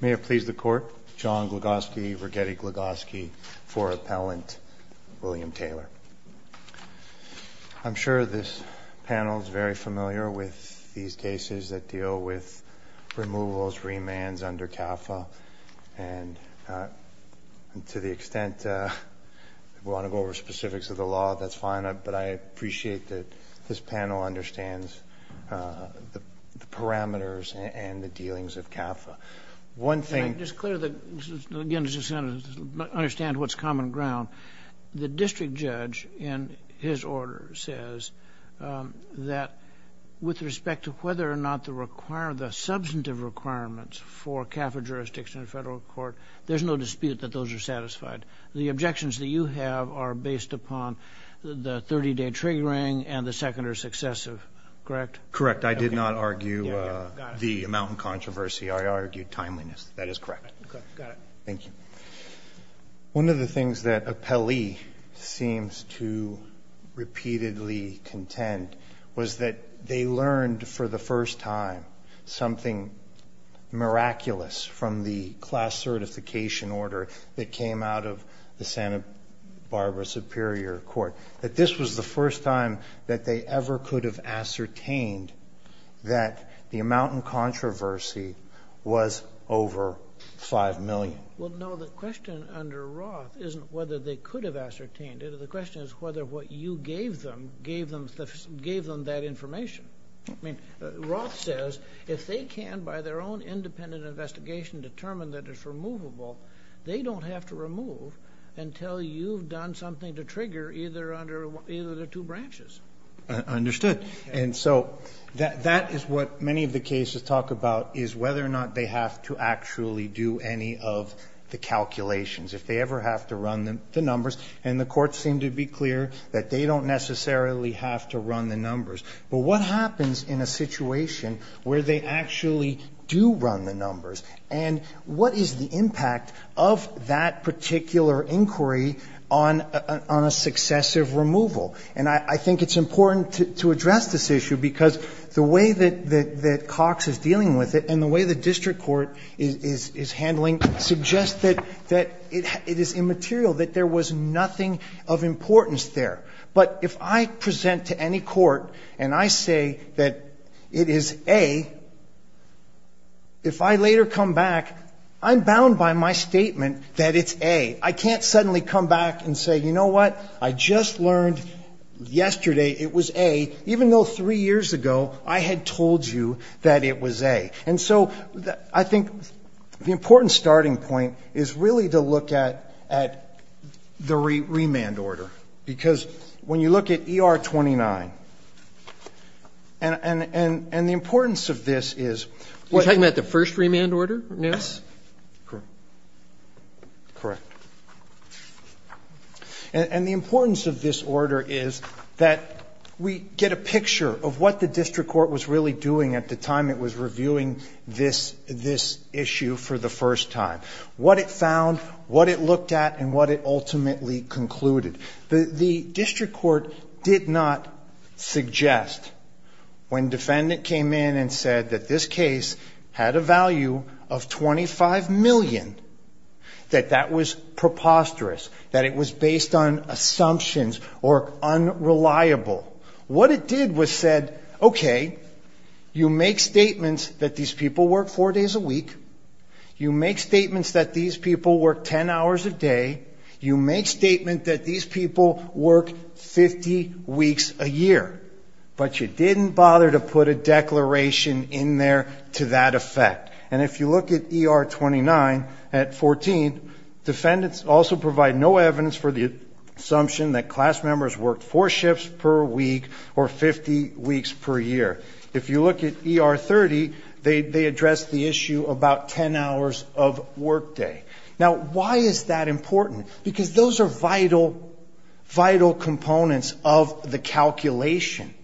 May it please the Court, John Glogoski v. Righetti-Glogoski for Appellant William Taylor. I'm sure this panel is very familiar with these cases that deal with removals, remands under CAFA and to the extent we want to go over specifics of the law that's fine but I appreciate that this and the dealings of CAFA. One thing, just clear the, again just understand what's common ground, the district judge in his order says that with respect to whether or not the require the substantive requirements for CAFA jurisdictions in a federal court there's no dispute that those are satisfied. The objections that you have are based upon the 30-day triggering and the successive, correct? Correct, I did not argue the amount of controversy, I argued timeliness, that is correct. Thank you. One of the things that Appellee seems to repeatedly contend was that they learned for the first time something miraculous from the class certification order that came out of the Santa Barbara Superior Court, that this was the first time that they ever could have ascertained that the amount in controversy was over five million. Well no, the question under Roth isn't whether they could have ascertained it, the question is whether what you gave them gave them that information. I mean Roth says if they can by their own independent investigation determine that it's removable, they don't have to remove until you've done something to trigger either under either the two branches. Understood, and so that is what many of the cases talk about is whether or not they have to actually do any of the calculations, if they ever have to run them the numbers, and the courts seem to be clear that they don't necessarily have to run the numbers, but what happens in a situation where they actually do run the numbers, and what is the impact of that particular inquiry on a successive removal? And I think it's important to address this issue because the way that Cox is dealing with it and the way the district court is handling it suggests that it is immaterial, that there was nothing of importance there. But if I present to any court and I say that it is A, if I later come back, I'm bound by my statement that it's A. I can't suddenly come back and say, you know what, I just learned yesterday it was A, even though three years ago I had told you that it was A. And so I think the important starting point is really to look at the remand order, because when you look at ER 29, and the importance of this is what the importance of this order is that we get a picture of what the district court was really doing at the time it was reviewing this issue for the first time, what it found, what it looked at, and what it ultimately concluded. The district court did not suggest when defendant came in and said that this case had a value of $25 million that that was preposterous, that it was based on assumptions or unreliable. What it did was said, okay, you make statements that these people work four days a week, you make statements that these people work 10 hours a day, you make statements that these people work 50 weeks a year, but you didn't bother to put a declaration in there to that effect. And if you look at ER 29 at 14, defendants also provide no evidence for the assumption that class members worked four shifts per week or 50 weeks per year. If you look at ER 30, they address the issue about 10 hours of workday. Now, why is that important? Because those are vital, vital components of the calculation.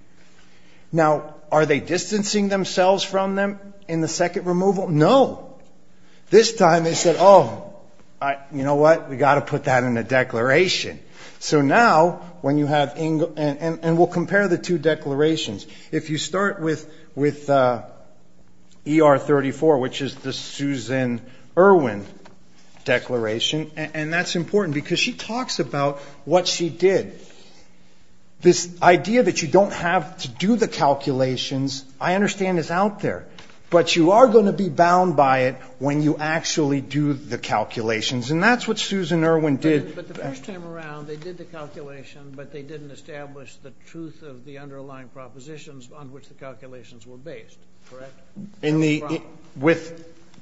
Now, are they distancing themselves from them in the second removal? No. This time they said, oh, you know what, we got to put that in a declaration. So now, when you have, and we'll compare the two declarations. If you start with ER 34, which is the Susan Irwin declaration, and that's important because she talks about what she did. This idea that you don't have to do the calculations, I understand is out there. But you are going to be bound by it when you actually do the calculations. And that's what Susan Irwin did. But the first time around, they did the calculation, but they didn't establish the truth of the underlying propositions on which the calculations were based, correct? No problem.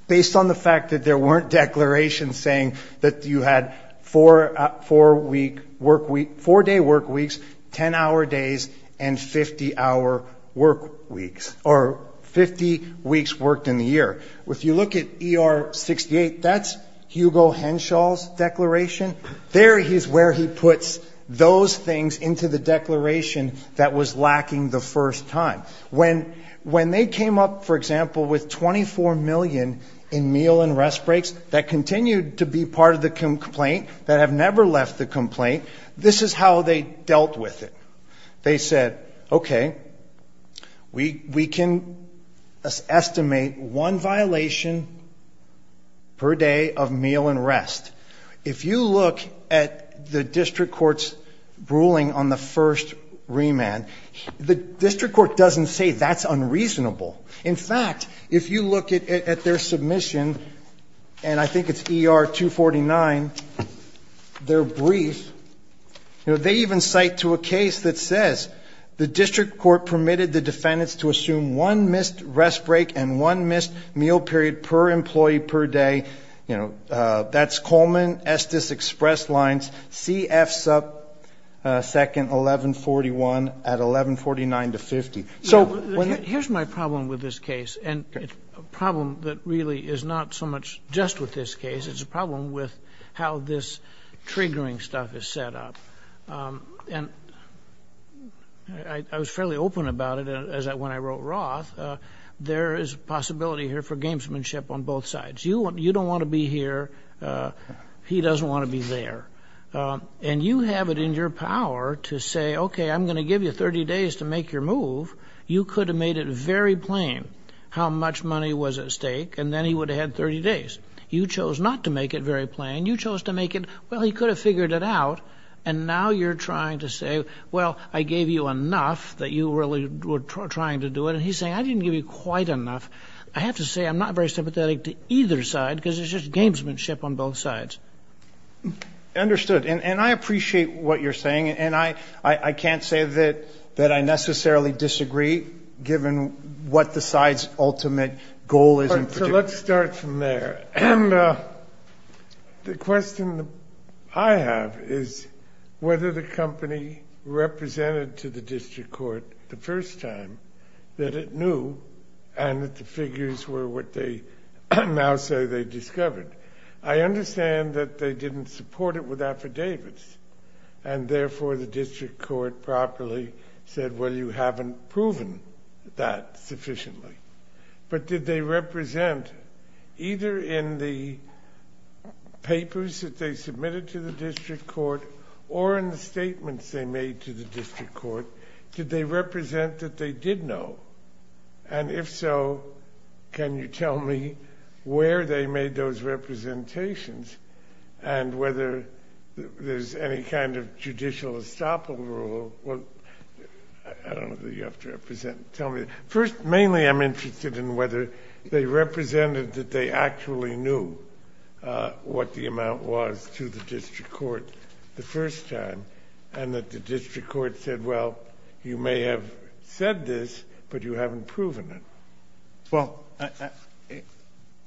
Based on the fact that there weren't declarations saying that you had four-day work weeks, 10-hour days, and 50-hour work weeks, or 50 weeks worked in the year. If you look at ER 68, that's Hugo Henshaw's declaration. There is where he puts those things into the declaration that was lacking the first time. When they came up, for example, with $24 million in meal and rest breaks that continued to be part of the complaint, that have never left the complaint, this is how they dealt with it. They said, okay, we can estimate one violation per day of meal and rest. If you look at the district court's ruling on the first remand, the district court doesn't say that's unreasonable. In fact, if you look at their submission, and I think it's ER 249, their brief, they even cite to a case that says, the district court permitted the defendants to assume one missed rest break and one missed meal period per employee per day. That's Coleman, Estes Express Lines, CF sub 2nd, 1141 at 1149 to 50. Here's my problem with this case, and a problem that really is not so much just with this case, it's a problem with how this triggering stuff is set up. I was fairly impressed with the open about it, as when I wrote Roth, there is possibility here for gamesmanship on both sides. You don't want to be here, he doesn't want to be there. You have it in your power to say, okay, I'm going to give you 30 days to make your move. You could have made it very plain how much money was at stake, and then he would have had 30 days. You chose not to make it very plain. You chose to make it, well, he could have figured it out, and now you're trying to say, well, I gave you enough that you really were trying to do it. And he's saying, I didn't give you quite enough. I have to say I'm not very sympathetic to either side, because it's just gamesmanship on both sides. I understand. And I appreciate what you're saying, and I can't say that I necessarily disagree, given what the side's ultimate goal is in particular. Let's start from there. The question I have is whether the company represented to the district court the first time that it knew, and that the figures were what they now say they discovered. I understand that they didn't support it with affidavits, and therefore the district court properly said, well, you haven't proven that sufficiently. But did they represent, either in the papers that they submitted to the district court, or in the statements they made to the district court, did they represent that they did know? And if so, can you tell me where they made those representations, and whether there's any kind of judicial estoppel rule? Well, I don't know that you have to tell me. First, mainly I'm interested in whether they represented that they actually knew what the amount was to the district court the first time, and that the district court said, well, you may have said this, but you haven't proven it. Well,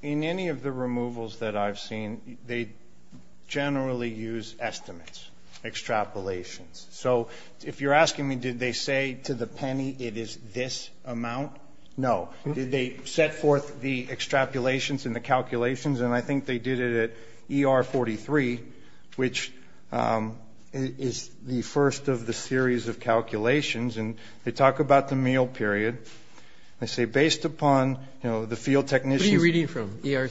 in any of the removals that I've seen, they generally use estimates, extrapolations. So if you're asking me, did they say to the penny it is this amount? No. Did they set forth the extrapolations and the calculations? And I think they did it at ER 43, which is the first of the series of calculations. And they talk about the meal period. They say based upon the field technicians. What are you reading from? ER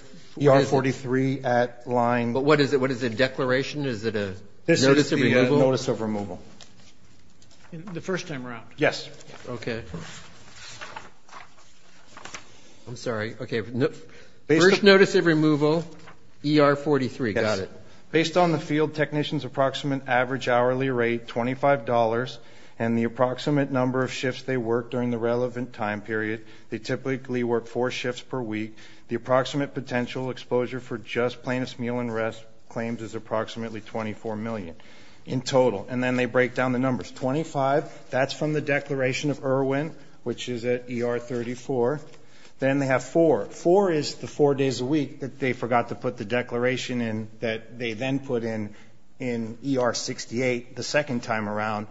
43 at line. But what is it? What is it, a declaration? Is it a notice of removal? The first time around. Yes. Okay. I'm sorry. Okay. First notice of removal, ER 43. Got it. Based on the field technician's approximate average hourly rate, $25, and the approximate number of shifts they work during the relevant time period, they typically work four shifts per week. The approximate potential exposure for just plaintiff's meal and rest claims is approximately 24 million in total. And then they break down the numbers. 25, that's from the declaration of Erwin, which is at ER 34. Then they have four. Four is the four days a week that they forgot to put the declaration in that they then put in ER 68 the second time around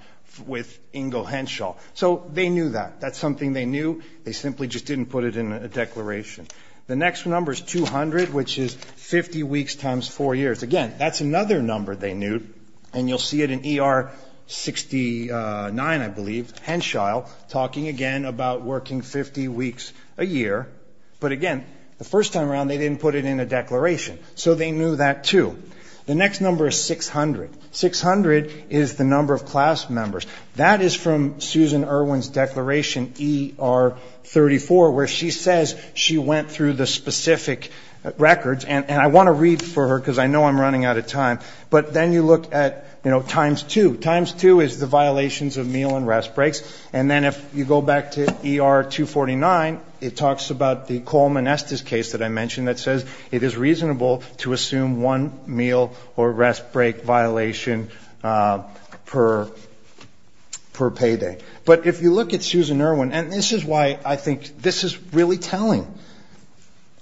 with Ingo Henshaw. So they knew that. That's something they knew. They simply just didn't put it in a declaration. The next number is 200, which is 50 weeks times four years. Again, that's another number they knew. And you'll see it in ER 69, I believe, Henshaw talking again about working 50 weeks a year. But again, the first time around, they didn't put it in a declaration. So they knew that, too. The next number is 600. 600 is the number of class members. That is from Susan Erwin's declaration, ER 34, where she says she went through the specific records. And I want to read for her because I know I'm running out of time. But then you look at times two. Times two is the violations of meal and rest breaks. And then if you go back to ER 249, it talks about the Coleman Estes case that I mentioned that says it is reasonable to assume one meal or rest break violation per payday. But if you look at Susan Erwin, and this is why I think this is really telling.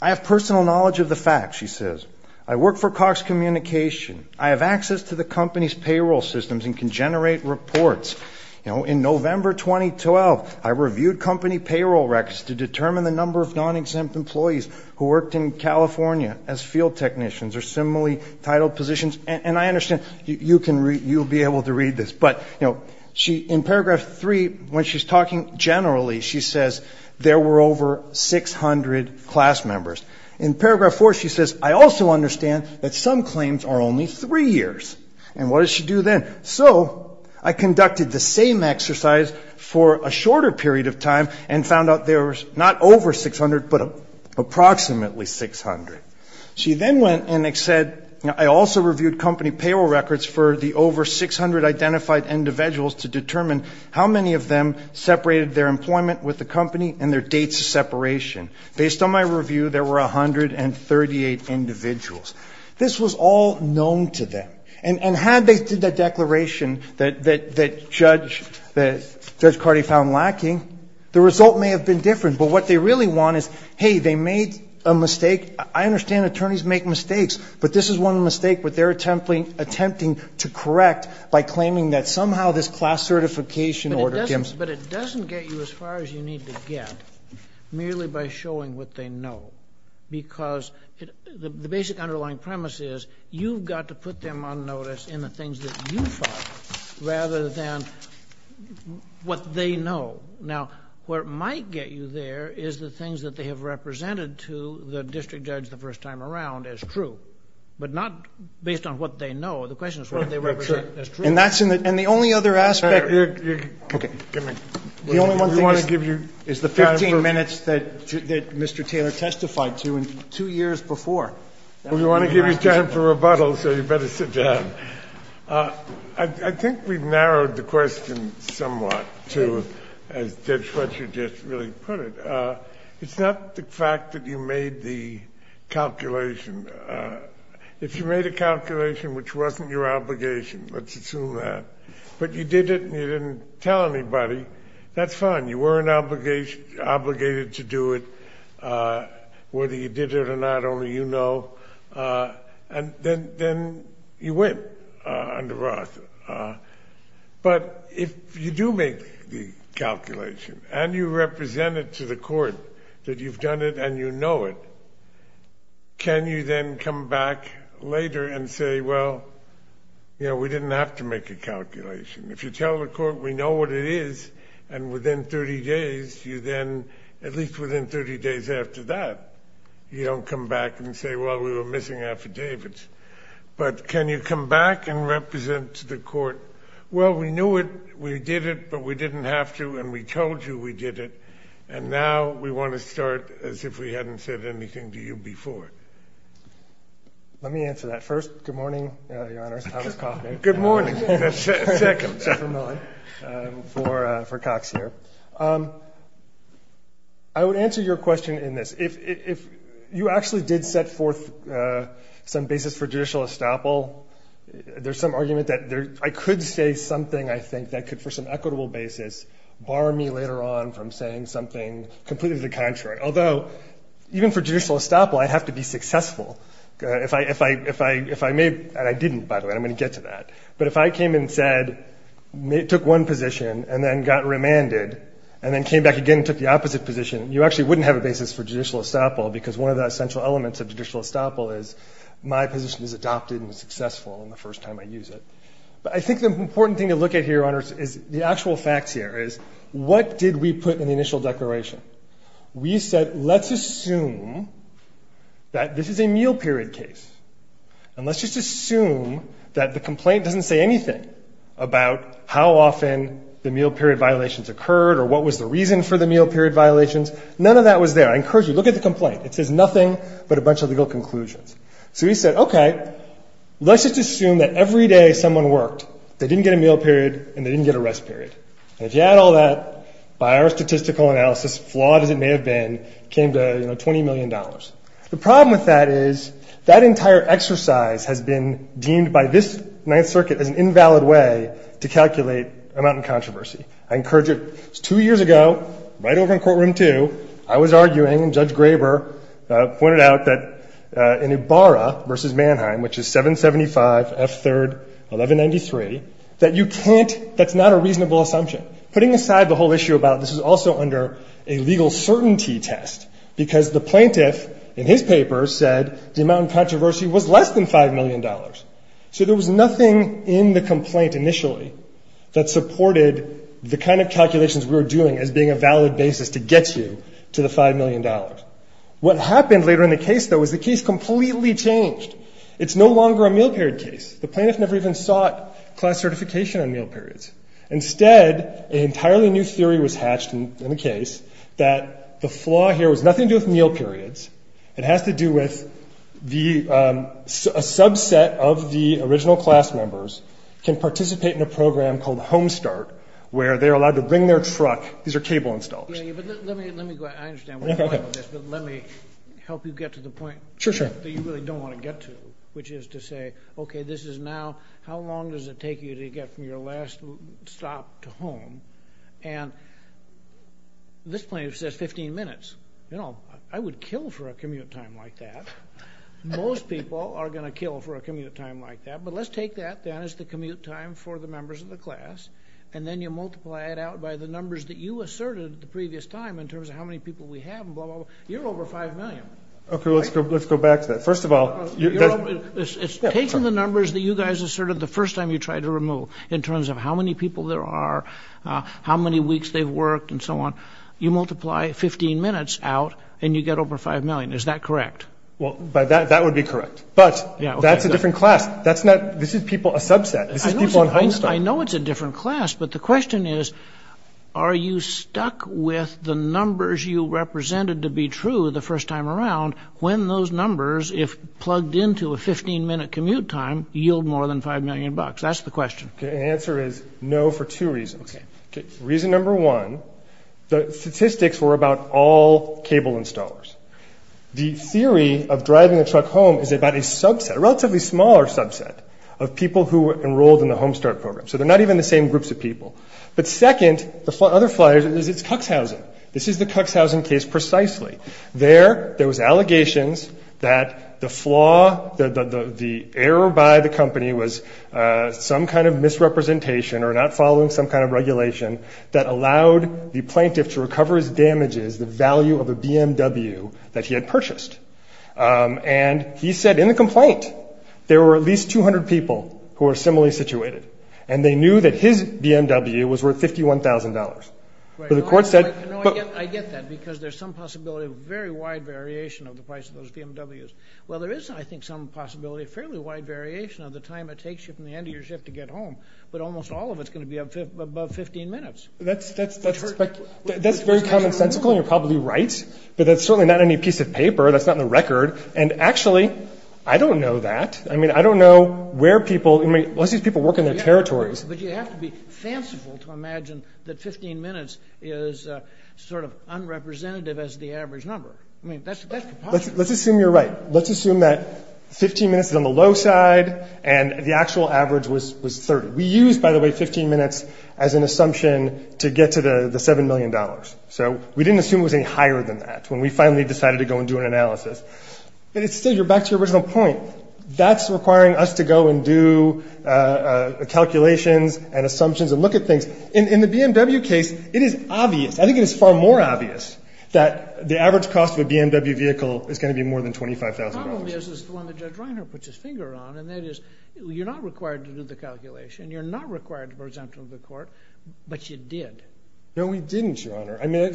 I have personal knowledge of the facts, she says. I work for Cox Communication. I have access to the company's payroll systems and can generate reports. In November 2012, I reviewed company payroll records to determine the number of non-exempt employees who worked in California as field technicians or similarly titled positions. And I understand you'll be able to read this. But in paragraph three, when she's talking generally, she says there were over 600 class members. In paragraph four, she says, I also understand that some claims are only three years. And what does she do then? So I conducted the same exercise for a shorter period of time and found out there was not over 600, but approximately 600. She then went and said, I also reviewed company payroll records for the over 600 identified individuals to determine how many of them separated their employment with the company and their dates of separation. Based on my review, there were 138 individuals. This was all known to them. And had they did that declaration that Judge Cardi found lacking, the result may have been different. But what they really want is, hey, they made a mistake. I understand attorneys make mistakes, but this is one mistake, but they're attempting to correct by claiming that somehow this class certification order comes. But it doesn't get you as far as you need to get merely by showing what they know. Because the basic underlying premise is you've got to put them on notice in the things that you find rather than what they know. Now, where it might get you there is the things that they have represented to the district judge the first time around as true, but not based on what they know. The question is what they represent as true. And that's in the, and the only other aspect. Okay. The only one thing is the 15 minutes that Mr. Taylor testified to in two years before. We want to give you time for rebuttal, so you better sit down. I think we've narrowed the question somewhat to, as Judge Fletcher just really put it. It's not the fact that you made the calculation. If you made a calculation which wasn't your obligation, let's assume that, but you did it and you didn't tell anybody, that's fine. You were an obligation, obligated to do it. Whether you did it or not, only you know. And then you went under oath. But if you do make the calculation and you represent it to the court that you've done it and you know it, can you then come back later and say, well, you know, we didn't have to make a calculation. If you tell the court we know what it is and within 30 days you then at least within 30 days after that you don't come back and say, well, we were missing affidavits. But can you come back and represent to the court, well, we knew it, we did it, but we didn't have to and we told you we did it. And now we want to start as if we hadn't said anything to you before. Let me answer that first. Good morning, Your Honors. I was coughing. Good morning. Second. For Cox here. I would answer your question in this. If you actually did set forth some basis for judicial estoppel, there's some argument that I could say something, I think, that could for some equitable basis bar me later on from saying something completely the contrary. Although, even for judicial estoppel, I'd have to be successful. If I made, and I didn't, by the way, I'm going to get to that. But if I came and said, took one position and then got remanded and then came back again and took the opposite position, you actually wouldn't have a basis for judicial estoppel because one of the essential elements of judicial estoppel is my position is adopted and successful in the first time I use it. But I think the important thing to look at here, Your Honors, is the actual facts here is what did we put in the initial declaration? We said, let's assume that this is a meal period case. And let's just assume that the complaint doesn't say anything about how often the meal period violations occurred or what was the reason for the meal period violations. None of that was there. I encourage you, look at the complaint. It says nothing but a bunch of legal conclusions. So we said, okay, let's just assume that every day someone worked, they didn't get a meal period and they didn't get a rest period. And if you add all that, by our statistical analysis, flawed as it may have been, came to $20 million. The problem with that is that entire exercise has been deemed by this Ninth Circuit as an invalid way to calculate amount in controversy. I encourage you, two years ago, right over in courtroom two, I was arguing and Judge Graber pointed out that in Ibarra v. Mannheim, which is 775 F. 3rd 1193, that you can't, that's not a reasonable assumption. Putting aside the whole issue about this is also under a legal certainty test because the plaintiff, in his paper, said the amount in controversy was less than $5 million. So there was nothing in the complaint initially that supported the kind of calculations we were doing as being a valid basis to get you to the $5 million. What happened later in the case, though, is the case completely changed. It's no longer a meal period case. The plaintiff never even sought class certification on meal periods. Instead, an entirely new theory was hatched in the case that the flaw here was nothing to do with meal periods. It has to do with a subset of the original class members can participate in a program called Home Start where they're allowed to bring their truck. These are cable installers. Let me help you get to the point that you really don't want to get to, which is to say, okay, this is now, how long does it take you to get from your last stop to home? And this plaintiff says 15 minutes. You know, I would kill for a commute time like that. Most people are going to kill for a commute time like that. But let's take that then as the commute time for the members of the class, and then you multiply it out by the numbers that you asserted at the previous time in terms of how many people we have and blah, blah, blah. You're over $5 million. Okay, let's go back to that. First of all... It's taking the numbers that you guys asserted the first time you tried to remove in terms of how many people there are, how many weeks they've worked, and so on. You multiply 15 minutes out and you get over $5 million. Is that correct? Well, that would be correct. But that's a different class. This is people, a subset. This is people on Home Start. I know it's a different class, but the question is, are you stuck with the numbers you represented to be true the first time around when those numbers, if plugged into a 15-minute commute time, yield more than $5 million? That's the question. The answer is no for two reasons. Reason number one, the statistics were about all cable installers. The theory of driving a truck home is about a subset, a relatively smaller subset, of people who were enrolled in the Home Start program. So they're not even the same groups of people. But second, the other flyer is it's Cuxhausen. This is the Cuxhausen case precisely. There, there was allegations that the flaw, the error by the company was some kind of misrepresentation or not following some kind of regulation that allowed the plaintiff to recover his damages, the value of a BMW that he had purchased. And he said in the complaint there were at least 200 people who were similarly situated. And they knew that his BMW was worth $51,000. But the court said- I get that because there's some possibility of very wide variation of the price of those BMWs. Well, there is, I think, some possibility of fairly wide variation of the time it takes you from the end of your shift to get home. But almost all of it's going to be above 15 minutes. That's very commonsensical, and you're probably right. But that's certainly not any piece of paper. That's not in the record. And actually, I don't know that. I mean, I don't know where people, unless these people work in their territories. But you have to be fanciful to imagine that 15 minutes is sort of unrepresentative as the average number. I mean, that's impossible. Let's assume you're right. Let's assume that 15 minutes is on the low side and the actual average was 30. We used, by the way, 15 minutes as an assumption to get to the $7 million. So we didn't assume it was any higher than that when we finally decided to go and do an analysis. But still, you're back to your original point. That's requiring us to go and do calculations and assumptions and look at things. In the BMW case, it is obvious. I think it is far more obvious that the average cost of a BMW vehicle is going to be more than $25,000. The problem is the one that Judge Reiner puts his finger on, and that is you're not required to do the calculation. You're not required to present to the court. But you did. No, we didn't, Your Honor. I mean,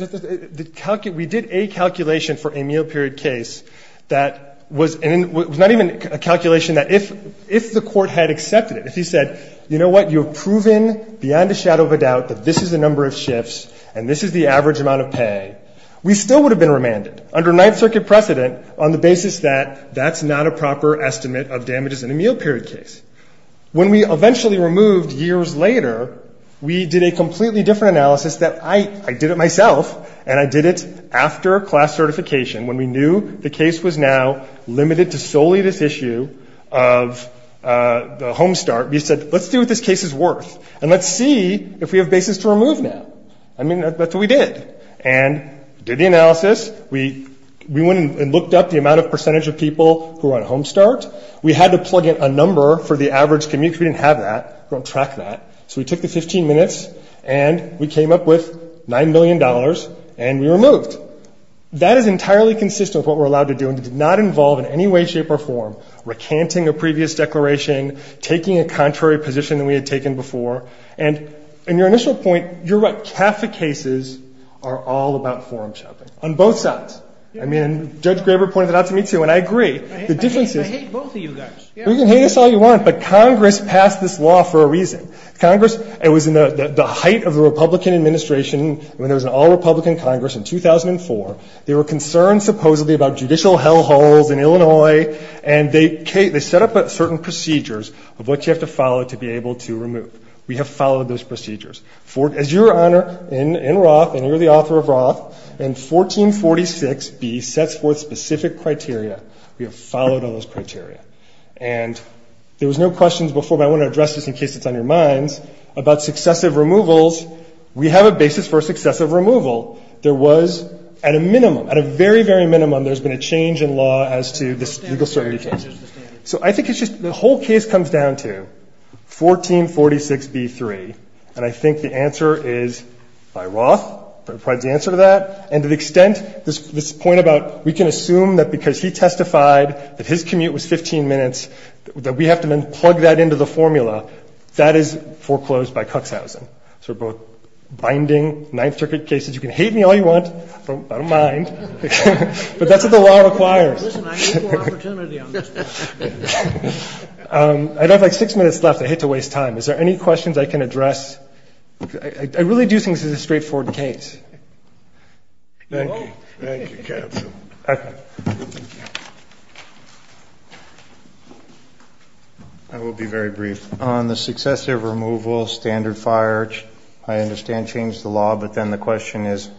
we did a calculation for a meal period case that was not even a calculation that if the court had accepted it, if he said, you know what, you have proven beyond a shadow of a doubt that this is the number of shifts and this is the average amount of pay, we still would have been remanded under Ninth Circuit precedent on the basis that that's not a proper estimate of damages in a meal period case. When we eventually removed years later, we did a completely different analysis that I did it myself, and I did it after class certification when we knew the case was now limited to solely this issue of the home start. We said, let's see what this case is worth, and let's see if we have basis to remove now. I mean, that's what we did. And we did the analysis. We went and looked up the amount of percentage of people who were on home start. We had to plug in a number for the average commute, because we didn't have that. We don't track that. So we took the 15 minutes, and we came up with $9 million, and we removed. That is entirely consistent with what we're allowed to do, and it did not involve in any way, shape, or form recanting a previous declaration, taking a contrary position than we had taken before. And in your initial point, you're right. Half the cases are all about forum shopping on both sides. I mean, Judge Graber pointed that out to me, too, and I agree. The difference is you can hate us all you want, but Congress passed this law for a reason. Congress, it was in the height of the Republican administration when there was an all-Republican Congress in 2004. They were concerned supposedly about judicial hell holes in Illinois, and they set up certain procedures of what you have to follow to be able to remove. We have followed those procedures. As Your Honor, in Roth, and you're the author of Roth, in 1446B sets forth specific criteria. We have followed all those criteria. And there was no questions before, but I want to address this in case it's on your minds, about successive removals. We have a basis for successive removal. There was, at a minimum, at a very, very minimum, there's been a change in law as to the legal certainty case. So I think it's just the whole case comes down to 1446B-3, and I think the answer is by Roth provides the answer to that. And to the extent, this point about we can assume that because he testified that his commute was 15 minutes, that we have to then plug that into the formula, that is foreclosed by Cuxhausen. So we're both binding Ninth Circuit cases. You can hate me all you want. I don't mind. But that's what the law requires. I'd have like six minutes left. I hate to waste time. Is there any questions I can address? I really do think this is a straightforward case. Thank you. Thank you, counsel. I will be very brief. On the successive removal, standard fire, I understand changed the law. But then the question is,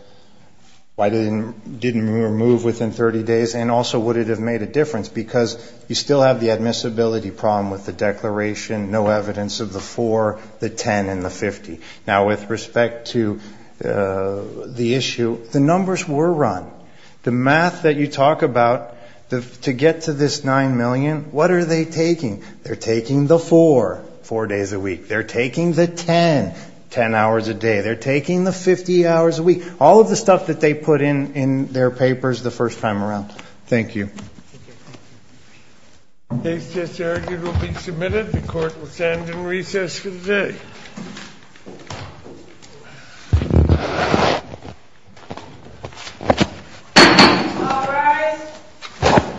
why didn't we remove within 30 days? And also, would it have made a difference? Because you still have the admissibility problem with the declaration, no evidence of the 4, the 10, and the 50. Now, with respect to the issue, the numbers were run. The math that you talk about, to get to this 9 million, what are they taking? They're taking the 4, 4 days a week. They're taking the 10, 10 hours a day. They're taking the 50 hours a week. All of the stuff that they put in their papers the first time around. Thank you. This case will be submitted. The court will stand in recess for the day.